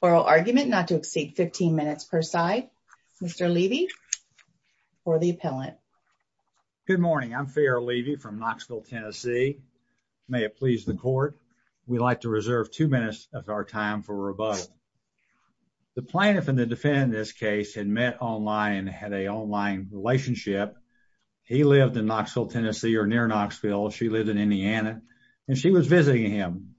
oral argument not to exceed 15 minutes per side. Mr. Levy for the appellant. Good morning. I'm Pharaoh Levy from Knoxville, Tennessee. May it please the court, we'd like to reserve two minutes of our time for rebuttal. The plaintiff and the defendant in this case had met online and had an online relationship. He lived in Knoxville, Tennessee or near Knoxville. She lived in Indiana and she was visiting him.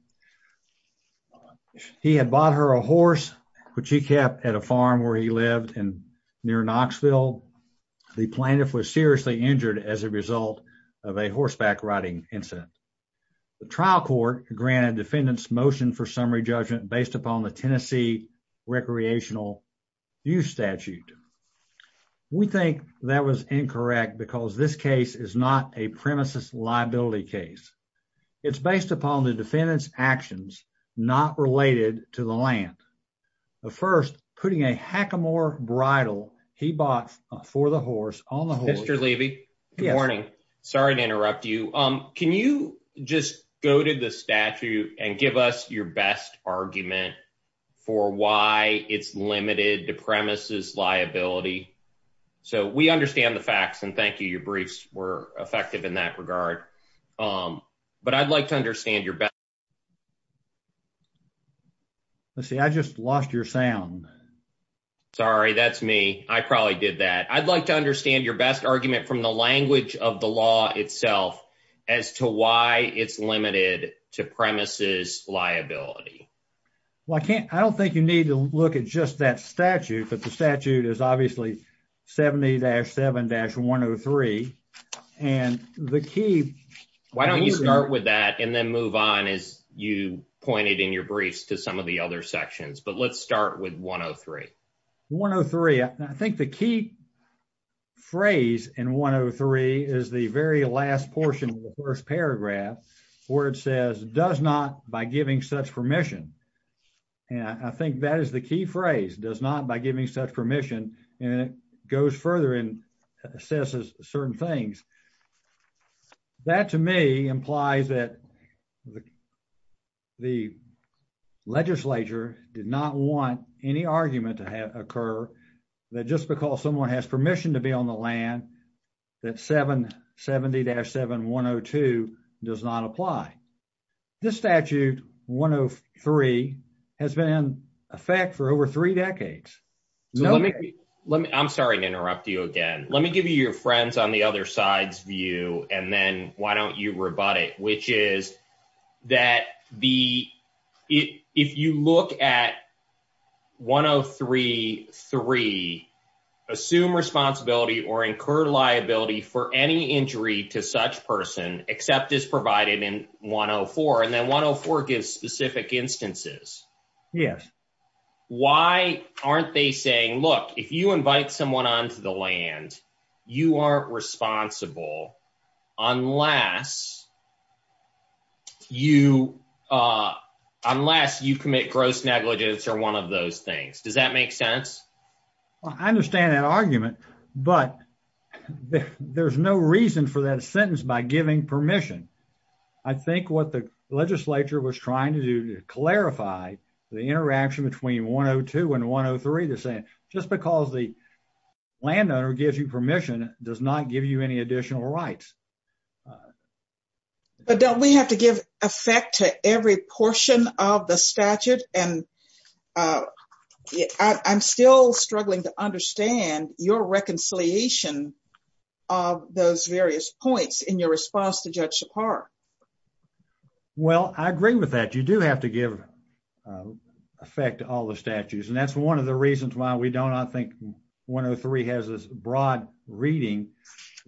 He had bought her a horse, which he kept at a farm where he lived and near Knoxville. The plaintiff was seriously injured as a result of a horseback riding incident. The trial court granted defendants motion for summary judgment based upon the Tennessee recreational use statute. We think that was incorrect because this case is not a premises liability case. It's based upon the defendant's actions, not related to the land. But first, putting a hackamore bridle he bought for the horse on the Mr. Levy. Good morning. Sorry to interrupt you. Um, can you just go to the statute and give us your best argument for why it's limited to premises liability? So we understand the briefs were effective in that regard. Um, but I'd like to understand your best. Let's see. I just lost your sound. Sorry, that's me. I probably did that. I'd like to understand your best argument from the language of the law itself as to why it's limited to premises liability. Well, I can't. I don't think you need to look at just that statute. But the key and the key. Why don't you start with that and then move on is you pointed in your briefs to some of the other sections. But let's start with 1 0 3 1 0 3. I think the key phrase in 1 0 3 is the very last portion of the first paragraph where it says does not by giving such permission. And I think that is the key phrase does not by giving such permission. And it goes further and assesses certain things. That to me implies that the legislature did not want any argument to occur that just because someone has permission to be on the land that 7 70-7 1 0 2 does not apply. This statute 1 0 3 has been in effect for over three decades. Let me I'm sorry to interrupt you again. Let me give you your friends on the other side's view. And then why don't you rebut it? Which is that the if you look at 1 0 3 3 assume responsibility or incur liability for any injury to such person except is provided in 1 0 4. And then 1 0 4 gives specific instances. Yes. Why aren't they saying, look, if you invite someone onto the land, you are responsible unless you unless you commit gross negligence or one of those things. Does that make sense? I understand that argument, but there's no reason for that sentence by giving permission. I think what the legislature was trying to do to clarify the interaction between 1 0 2 and 1 0 3, they're saying just because the landowner gives you permission does not give you any additional rights. But don't we have to give effect to every portion of the statute? And I'm still struggling to understand your reconciliation of those various points in your response to Judge Shapar. Well, I agree with that. You do have to give effect to all the statutes. And that's one of the reasons why we don't I think 1 0 3 has this broad reading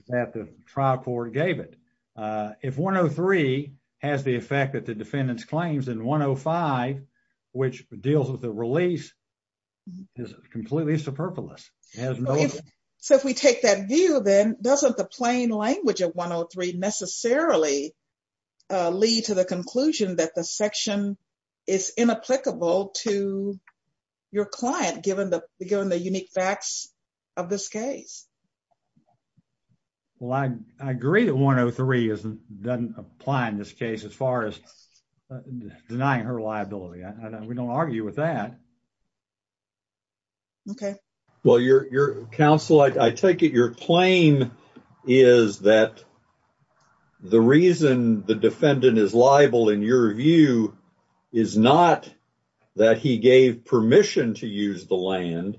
that the trial court gave it. If 1 0 3 has the effect that the defendants claims in 1 0 5, which deals with the release is completely superfluous. So if we take that view, then doesn't the plain language of 1 0 3 necessarily lead to the conclusion that the section is inapplicable to your client, given the given the unique facts of this case? Well, I agree that 1 0 3 is doesn't apply in this case as far as denying her liability. We don't argue with that. OK, well, your counsel, I take it your claim is that the reason the defendant is liable in your view is not that he gave permission to use the land,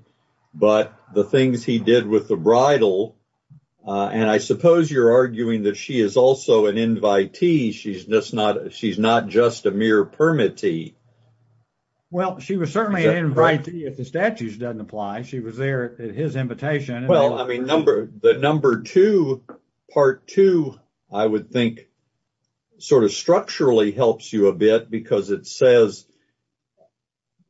but the things he did with the bridal. And I suppose you're arguing that she is also an invitee. She's just not she's not just a mere permittee. Well, she was certainly an invitee if the statutes doesn't apply. She was there at his invitation. Well, I mean, number the number two, part two, I would think sort of structurally helps you a bit because it says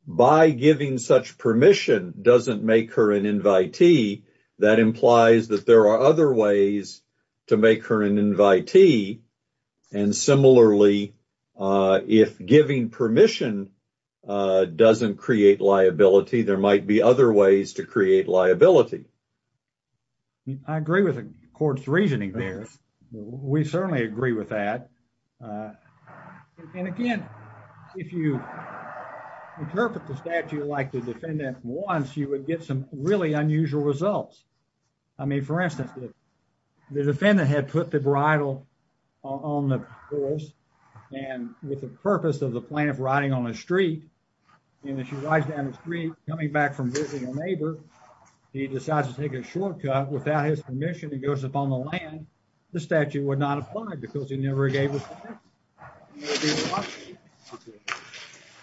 by giving such permission doesn't make her an invitee. That implies that there are other ways to make her an invitee. And similarly, if giving permission doesn't create liability, there might be other ways to create liability. I agree with the court's reasoning there. We certainly agree with that. And again, if you interpret the statute like the defendant wants, you would get some really and with the purpose of the plaintiff riding on a street and she rides down the street coming back from visiting a neighbor, he decides to take a shortcut without his permission and goes up on the land. The statute would not apply because he never gave his permission.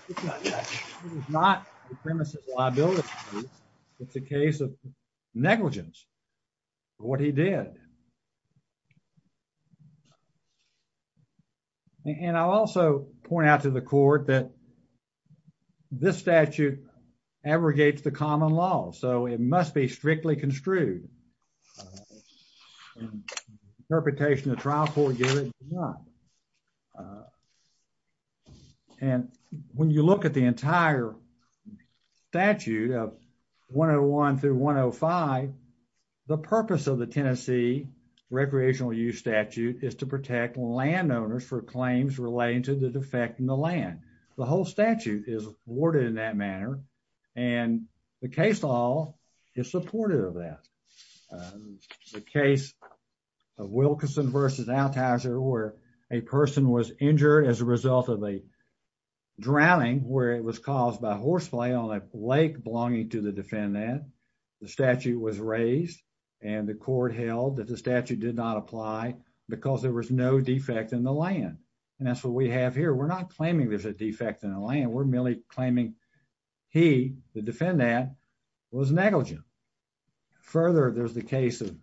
It's not the premises liability. It's a case of negligence. What he did. And I'll also point out to the court that this statute abrogates the common law, so it must be strictly construed. Interpretation of the trial court gives it to not. And when you look at the entire statute of 101 through 105, the purpose of the Tennessee recreational use statute is to protect landowners for claims relating to the defect in the land. The whole statute is worded in that manner and the case law is supportive of that. The case of Wilkinson versus Althauser where a person was injured as a result of a drowning where it was caused by horseplay on a lake belonging to the defendant. The statute was raised and the court held that the statute did not apply because there was no defect in the land. And that's what we have here. We're not claiming there's a defect in the land. We're merely claiming he, the defendant, was negligent. Further, there's the case of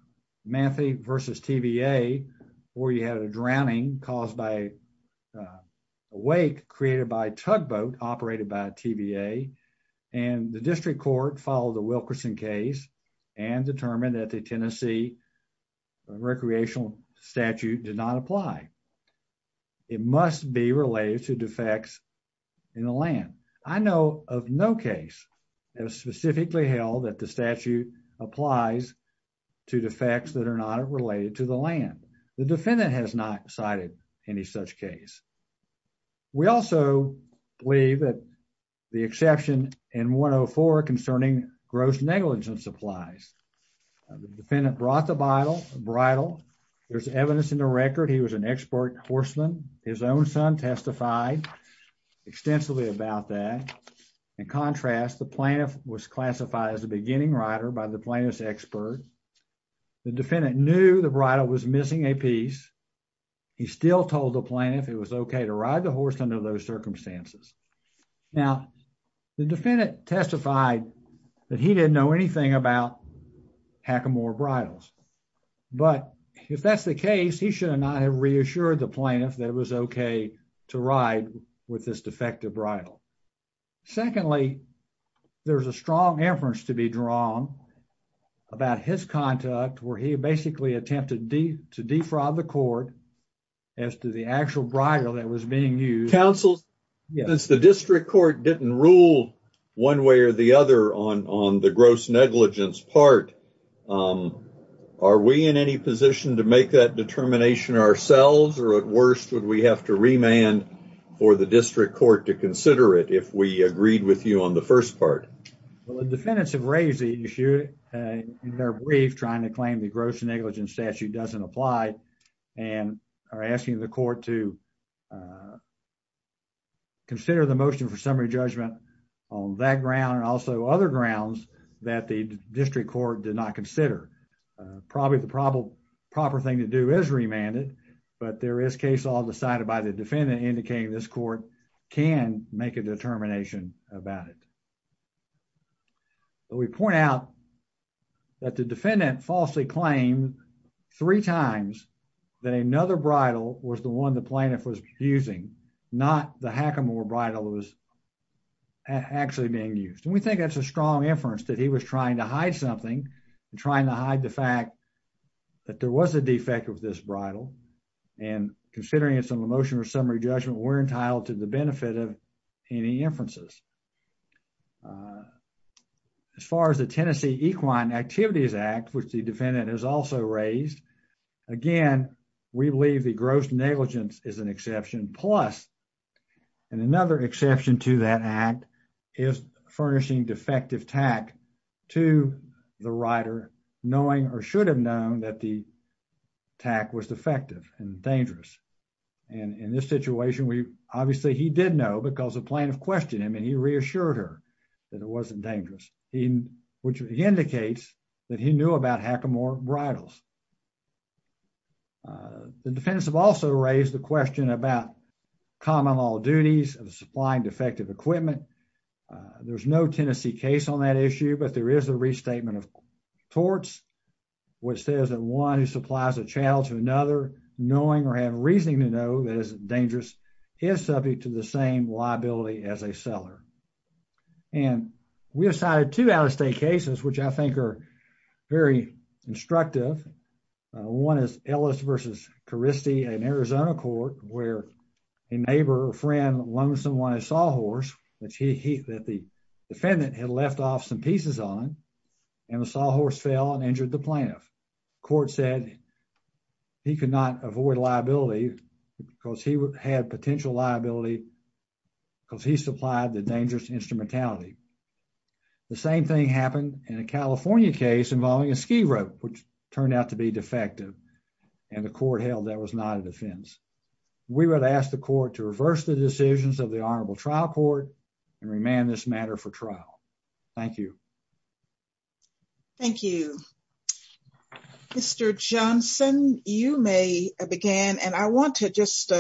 Manthe versus TVA where you had a drowning caused by a wake created by tugboat operated by TVA and the district court followed the Wilkerson case and determined that the Tennessee recreational statute did not apply. It must be related to defects in the land. I know of no case has specifically held that the statute applies to defects that are not related to the land. The defendant has not cited any such case. We also believe that the exception in 104 concerning gross negligence applies. The defendant brought the bridle. There's evidence in the record he was an expert horseman. His own son testified extensively about that. In contrast, the plaintiff was classified as a beginning rider by the plaintiff's expert. The defendant knew the bridle was missing a piece. He still told the plaintiff it was okay to ride the horse under those circumstances. Now, the defendant testified that he didn't know anything about hackamore bridles, but if that's the case, he should not have reassured the plaintiff that it was okay to ride with this defective bridle. Secondly, there's a strong inference to be drawn about his conduct where he basically attempted to defraud the court as to the actual bridle that was being used. Counsel, since the district court didn't rule one way or the other on the gross negligence part, are we in any position to make that determination ourselves, or at worst, would we have to remand for the district court to consider it if we agreed with you on the first part? Well, the defendants have raised the issue in their brief trying to claim the gross negligence doesn't apply and are asking the court to consider the motion for summary judgment on that ground and also other grounds that the district court did not consider. Probably the proper thing to do is remand it, but there is case all decided by the defendant indicating this court can make a determination about it. But we point out that the defendant falsely claimed three times that another bridle was the one the plaintiff was using, not the Hackamore bridle was actually being used. And we think that's a strong inference that he was trying to hide something and trying to hide the fact that there was a defect of this bridle. And considering it's an emotion or summary judgment, we're entitled to the benefit of any inferences. As far as the Tennessee Equine Activities Act, which the defendant has also raised, again, we believe the gross negligence is an exception. Plus, and another exception to that act is furnishing defective tack to the rider knowing or should have known that the tack was defective and dangerous. And in this situation, we obviously he did know because the plaintiff questioned him and he reassured her that it wasn't dangerous, which indicates that he knew about it. The defense have also raised the question about common law duties of supplying defective equipment. There's no Tennessee case on that issue, but there is a restatement of torts, which says that one who supplies a channel to another knowing or have reasoning to know that is dangerous is subject to the same liability as a seller. And we have cited two out-of-state cases, which I think are very instructive. One is Ellis versus Caristi in Arizona court where a neighbor or friend loaned someone a sawhorse that the defendant had left off some pieces on, and the sawhorse fell and injured the plaintiff. Court said he could not avoid liability because he had potential liability because he supplied the dangerous instrumentality. The same thing happened in a California case involving a ski rope, which turned out to be defective and the court held that was not a defense. We would ask the court to reverse the decisions of the honorable trial court and remand this matter for trial. Thank you. Thank you. Mr. Johnson, you may begin. And I want to just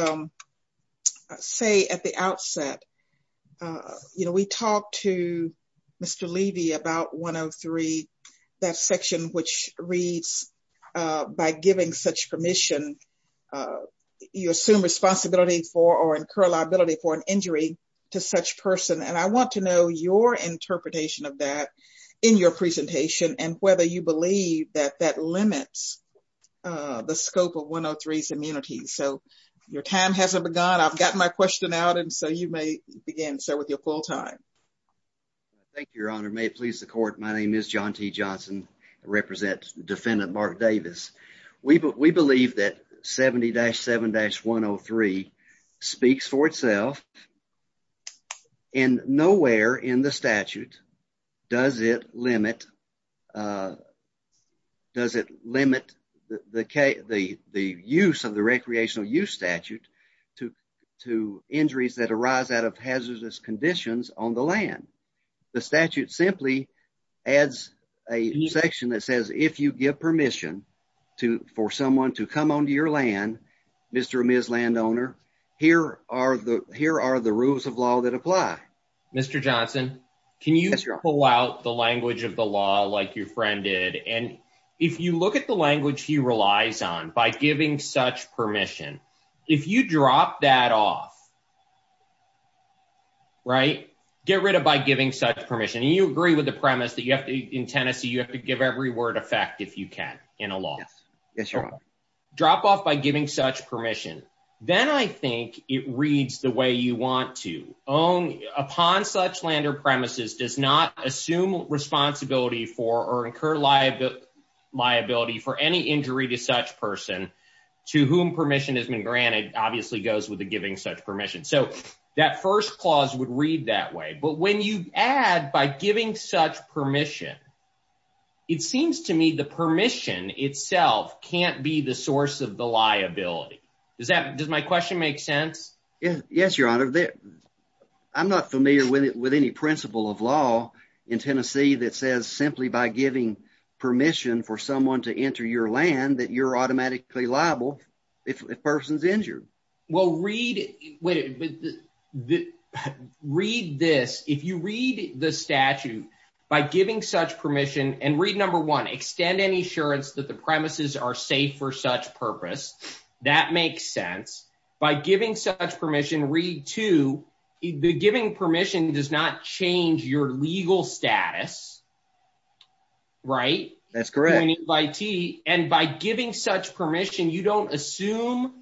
say at the outset, you know, we talked to Mr. Levy about 103, that section which reads, by giving such permission, you assume responsibility for or incur liability for an injury to such person. And I want to know your interpretation of that in your presentation and whether you believe that that limits the scope of 103's immunity. So your time hasn't begun. I've got my question out. And so you may begin, sir, with your full time. Thank you, Your Honor. May it please the court. My name is John T. Johnson. I represent Defendant Mark Davis. We believe that 70-7-103 speaks for itself. And nowhere in the statute does it limit the use of the recreational use statute to injuries that arise out of hazardous conditions on the land. The statute simply adds a section that says, if you give permission for someone to come onto your land, Mr. and Ms. Landowner, here are the rules of law that apply. Mr. Johnson, can you pull out the language of the law like your friend did? And if you look at the language he relies on, by giving such permission, if you drop that off, right, get rid of by giving such permission. And you agree with the premise that you have to, in Tennessee, you have to give every word of fact if you can in a law. Yes, Your Honor. Drop off by giving such permission. Then I think it reads the way you want to. Upon such land or premises does not assume responsibility for or incur liability for any injury to such person to whom permission has been granted, obviously goes with the giving such permission. So that first clause would read that way. But when you add by giving such permission, it seems to me the permission itself can't be the source of the liability. Does that, does my question make sense? Yes, Your Honor. I'm not familiar with any principle of law in Tennessee that says simply by giving permission for someone to enter your land that you're automatically liable if a person's injured. Well, read, wait, read this. If you read the statute by giving such permission and read number one, extend any assurance that the premises are safe for such purpose, that makes sense. By giving such permission, read two, the giving permission does not change your legal status, right? That's correct. And by giving such permission, you don't assume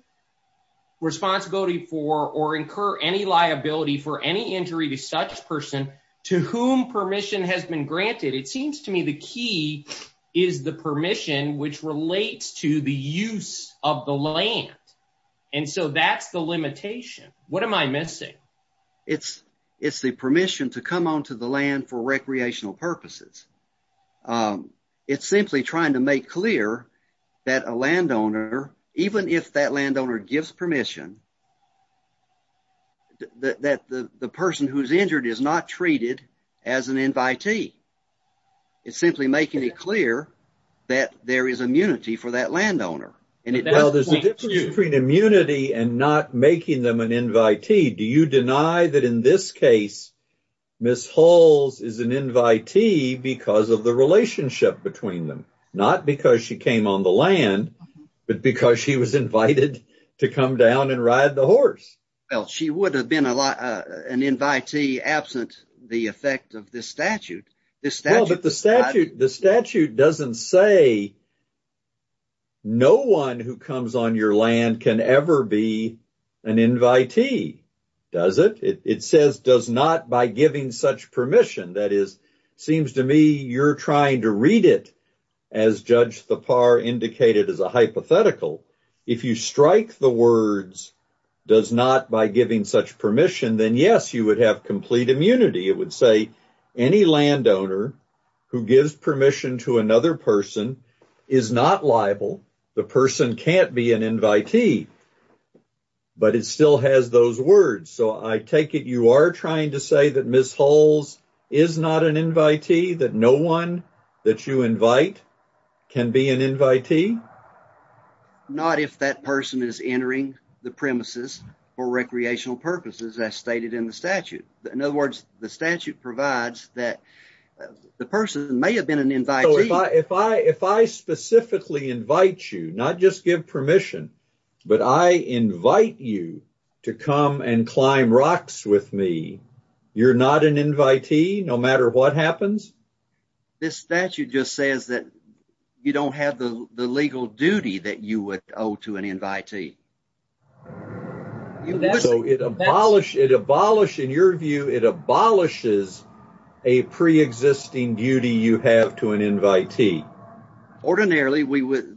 responsibility for or incur any liability for any injury to such person to whom permission has been granted. It seems to me the key is the permission which relates to the use of the land. And so that's the limitation. What am I missing? It's the permission to come onto the land for recreational purposes. It's simply trying to make clear that a landowner, even if that landowner gives permission, that the person who's injured is not treated as an invitee. It's simply making it clear that there is immunity for that landowner. Well, there's a difference between immunity and not making them an invitee. Do you deny that in this case, Ms. Hulls is an invitee because of the relationship between them? Not because she came on the land, but because she was invited to come down and ride the horse. Well, she would have been an invitee absent the effect of this statute. Well, but the statute doesn't say no one who comes on your land can ever be an invitee, does it? It says does not by giving such permission. That is, it seems to me you're trying to read it as Judge Thapar indicated as hypothetical. If you strike the words does not by giving such permission, then yes, you would have complete immunity. It would say any landowner who gives permission to another person is not liable. The person can't be an invitee, but it still has those words. So, I take it you are trying to say Ms. Hulls is not an invitee, that no one that you invite can be an invitee? Not if that person is entering the premises for recreational purposes as stated in the statute. In other words, the statute provides that the person may have been an invitee. So, if I specifically invite you, not just give permission, you're not an invitee no matter what happens? This statute just says that you don't have the legal duty that you would owe to an invitee. So, it abolishes, in your view, it abolishes a pre-existing duty you have to an invitee. Ordinarily,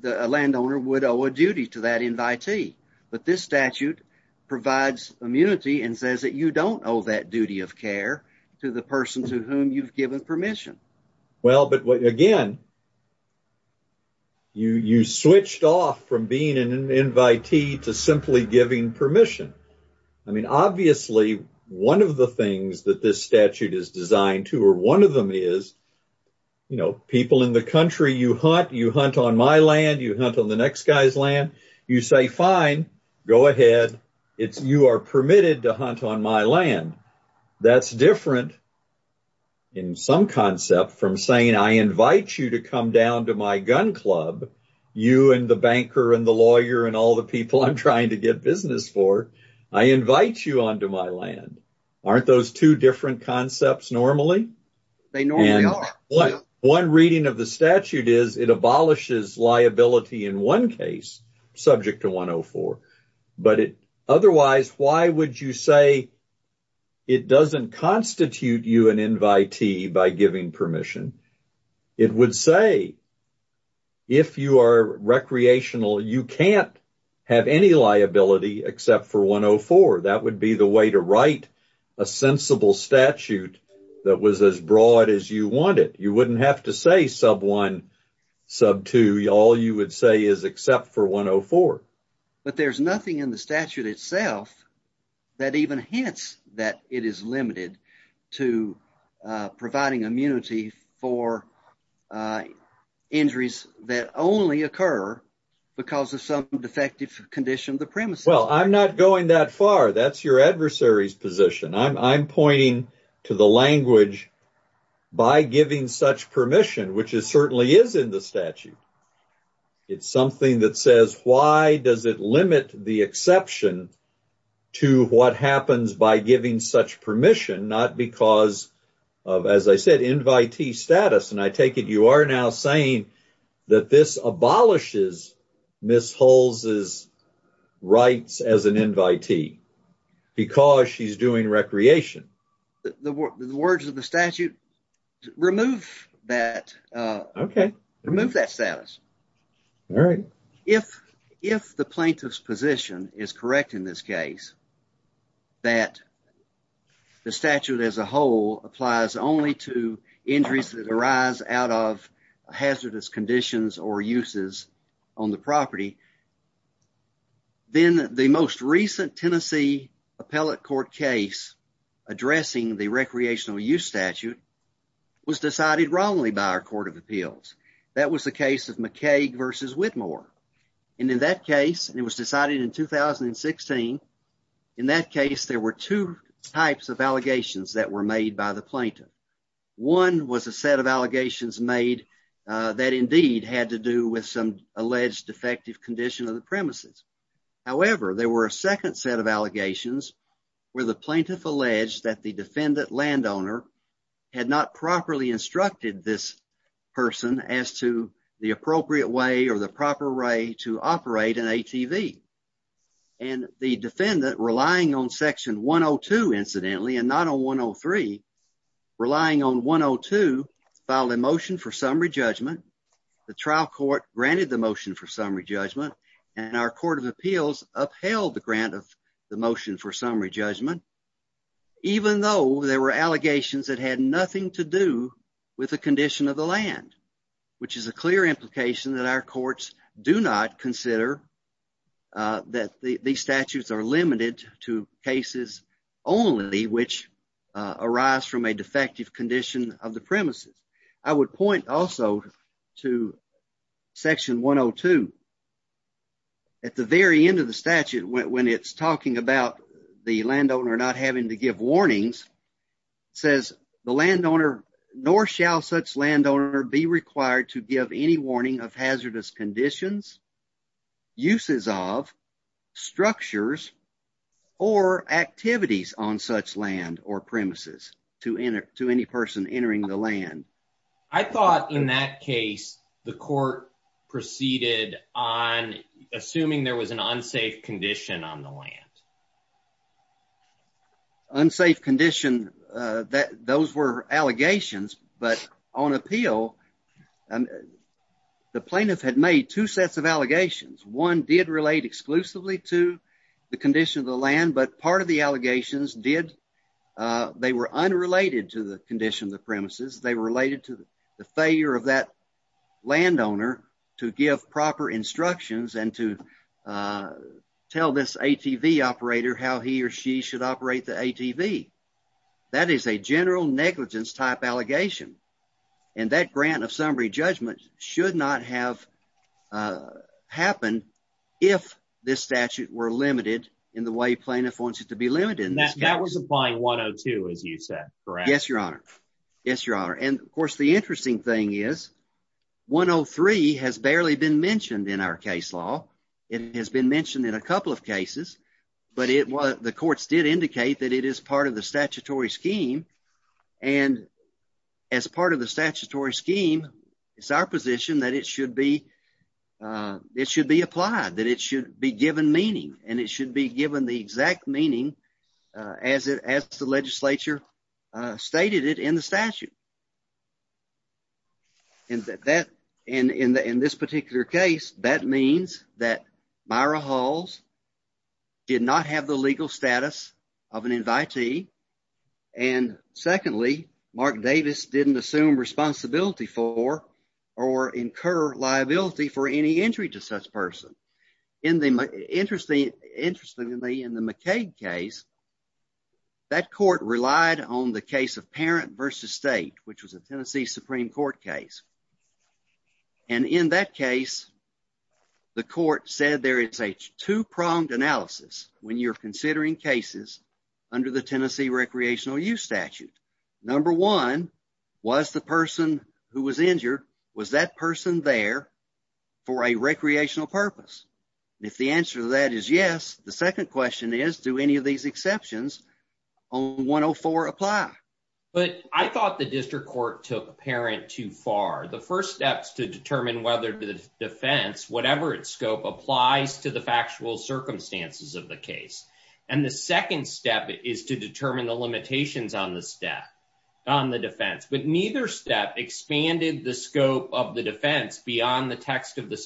a landowner would owe a duty to an invitee. But this statute provides immunity and says that you don't owe that duty of care to the person to whom you've given permission. Well, but again, you switched off from being an invitee to simply giving permission. I mean, obviously, one of the things that this statute is designed to, or one of them is, you know, people in the you say, fine, go ahead. It's you are permitted to hunt on my land. That's different in some concept from saying I invite you to come down to my gun club, you and the banker and the lawyer and all the people I'm trying to get business for. I invite you onto my land. Aren't those two different concepts normally? They normally are. One reading of the statute is it abolishes liability in one case subject to 104. But otherwise, why would you say it doesn't constitute you an invitee by giving permission? It would say if you are recreational, you can't have any liability except for 104. That would be the way to write a sensible statute that was as broad as you wanted. You wouldn't have to say sub one, sub two. All you would say is except for 104. But there's nothing in the statute itself that even hints that it is limited to providing immunity for injuries that only occur because of some defective condition of the premise. Well, I'm not going that far. That's your adversary's position. I'm pointing to the language by giving such permission, which is certainly is in the statute. It's something that says, why does it limit the exception to what happens by giving such permission? Not because of, as I said, invitee status. And I take it you are now saying that this abolishes Ms. Hull's rights as an invitee because she's doing recreation. The words of the statute remove that status. If the plaintiff's position is correct in this case, that the statute as a whole applies only to injuries that arise out of hazardous conditions or uses on the property. Then the most recent Tennessee appellate court case addressing the recreational use statute was decided wrongly by our court of appeals. That was the case of McCaig versus Whitmore. And in that case, it was decided in 2016. In that case, there were two types of allegations that were made by the plaintiff. One was a set of allegations made that indeed had to do with some alleged defective condition of the premises. However, there were a second set of allegations where the plaintiff alleged that the defendant landowner had not properly instructed this person as to the appropriate way or the proper way to operate an ATV. And the defendant, relying on section 102, incidentally, and not on 103, relying on 102, filed a motion for summary judgment. The trial court granted the motion for summary judgment, and our court of appeals upheld the grant of the motion for summary judgment even though there were allegations that had nothing to do with the condition of the land, which is a clear implication that our courts do not consider that these statutes are limited to rise from a defective condition of the premises. I would point also to section 102. At the very end of the statute, when it's talking about the landowner not having to give warnings, says the landowner, nor shall such landowner be required to give any warning of hazardous conditions, uses of, structures, or activities on such land or premises to any person entering the land. I thought in that case, the court proceeded on assuming there was an unsafe condition on the land. Unsafe condition, those were allegations, but on appeal, and the plaintiff had made two sets of allegations. One did relate exclusively to the condition of the land, but part of the allegations did, they were unrelated to the condition of the premises. They were related to the failure of that landowner to give proper instructions and to tell this ATV operator how he or she should operate the ATV. That is a general negligence type allegation, and that grant of summary judgment should not have happened if this statute were limited in the way plaintiff wants it to be limited. That was applying 102, as you said, correct? Yes, your honor. Yes, your honor, and of course the interesting thing is 103 has barely been mentioned in our case law. It has been mentioned in a couple of cases, but the courts did indicate that it is part of the statutory scheme, and as part of the statutory scheme, it is our position that it should be applied, that it should be given meaning, and it should be given the exact meaning as the legislature stated it in the statute. In this particular case, that means that Myra Hulls did not have the legal status of an invitee, and secondly, Mark Davis didn't assume responsibility for or incur liability for any injury to such person. Interestingly, in the McCaig case, that court relied on the case of parent versus state, which was a Tennessee Supreme Court case, and in that case, the court said there is a two-pronged analysis when you're considering cases under the Tennessee Recreational Use Statute. Number one, was the person who was injured, was that person there for a recreational purpose? If the answer to that is yes, the second question is, do any of these exceptions on 104 apply? But I thought the district court took parent too far. The first step is to determine whether the defense, whatever its scope, applies to the factual circumstances of the case, and the second step is to determine the limitations on the step, on the defense, but neither step expanded the scope of the defense beyond the text of the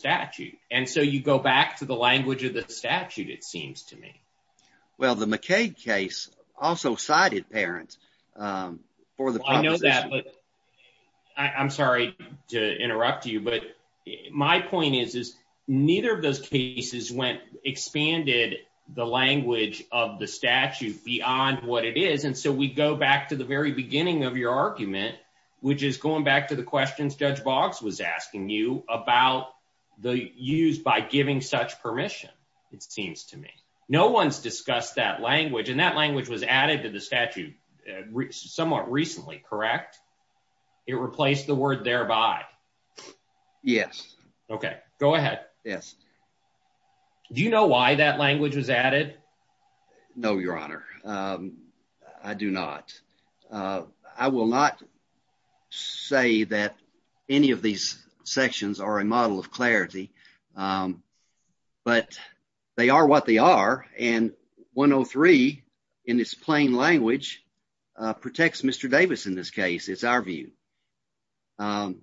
McCaig case. I'm sorry to interrupt you, but my point is, is neither of those cases went, expanded the language of the statute beyond what it is, and so we go back to the very beginning of your argument, which is going back to the questions Judge Boggs was asking you about the use by giving such permission, it seems to me. No one's discussed that language, and that language was added to the statute somewhat recently, correct? It replaced the word thereby. Yes. Okay, go ahead. Yes. Do you know why that language was added? No, your honor, I do not. I will not say that any of these sections are a model of clarity, but they are what they are, and 103 in its plain language protects Mr. Davis in this case, is our view. It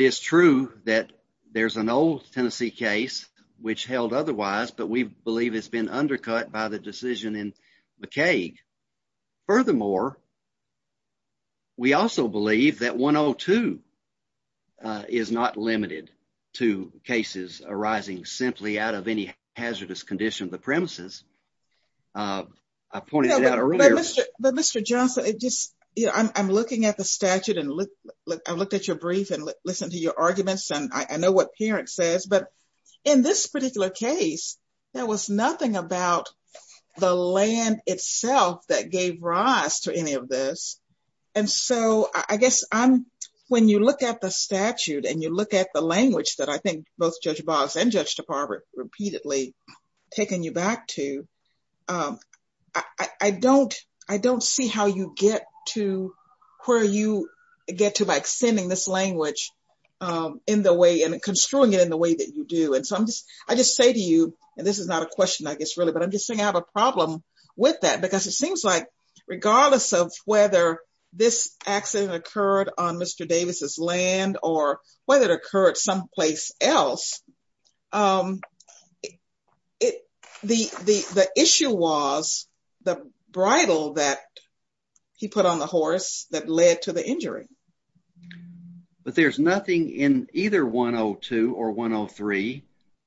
is true that there's an old Tennessee case which held otherwise, but we believe it's been undercut by the decision in McCaig. Furthermore, we also believe that 102 is not limited to cases arising simply out of any hazardous condition of the premises. I pointed it out earlier. But Mr. Johnson, I'm looking at the statute, and I looked at your brief, and listened to your arguments, and I know what Parent says, but in this particular case, there was nothing about the land itself that gave rise to any of this. And so I guess when you look at the statute, and you look at the language that I think both Judge Boggs and Judge DePauw repeatedly taken you back to, I don't see how you get to where you get to by extending this language in the way, and construing it in the way that you do. I just say to you, and this is not a question, I guess, really, but I'm just saying I have a problem with that, because it seems like regardless of whether this accident occurred on Mr. Davis's land, or whether it occurred someplace else, the issue was the bridle that he put on the horse that led to the injury. But there's nothing in either 102 or 103,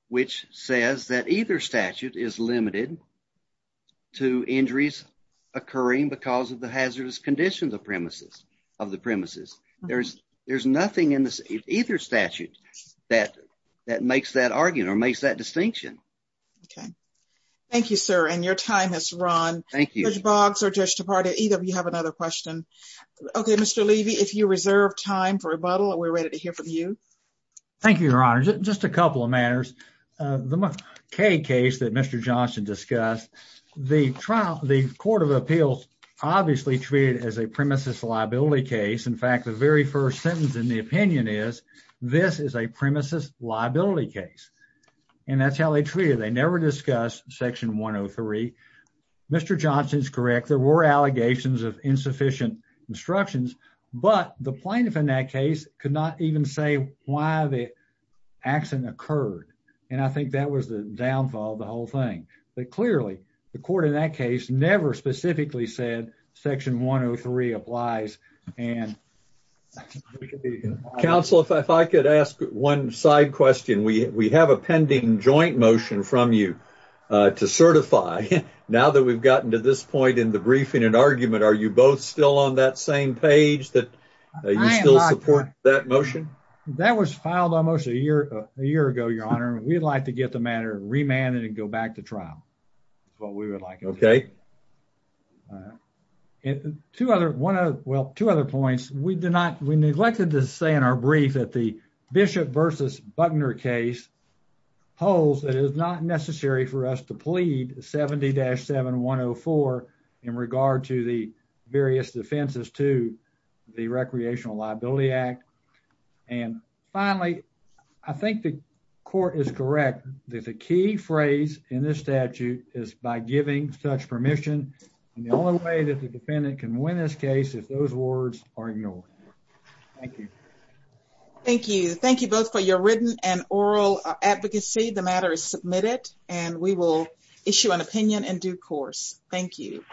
which says that either statute is limited to injuries occurring because of the hazardous conditions of the premises. There's nothing in either statute that makes that argument, Okay. Thank you, sir. And your time has run. Thank you. Judge Boggs or Judge DePauw, either of you have another question. Okay, Mr. Levy, if you reserve time for rebuttal, we're ready to hear from you. Thank you, Your Honor. Just a couple of matters. The K case that Mr. Johnson discussed, the Court of Appeals obviously treated as a premises liability case. In fact, the very first sentence in the opinion is, this is a premises liability case. And that's how they treated it. They never discussed section 103. Mr. Johnson's correct, there were allegations of insufficient instructions, but the plaintiff in that case could not even say why the accident occurred. And I think that was the downfall of the whole thing. But clearly, the court in that case never specifically said section 103 applies. And Counsel, if I could ask one side question, we have a pending joint motion from you to certify. Now that we've gotten to this point in the briefing and argument, are you both still on that same page that you still support that motion? That was filed almost a year ago, Your Honor. We'd like to get the matter remanded and go back to trial. That's what we would like. Okay. Two other points. We neglected to say in our brief that the Bishop versus Buckner case holds that it is not necessary for us to plead 70-7104 in regard to the various defenses to the Recreational Liability Act. And finally, I think the court is correct that the key phrase in this statute is by giving such permission. And the only way that the defendant can win this case is those words are ignored. Thank you. Thank you. Thank you both for your written and oral advocacy. The matter is submitted and we will issue an opinion in due course. Thank you.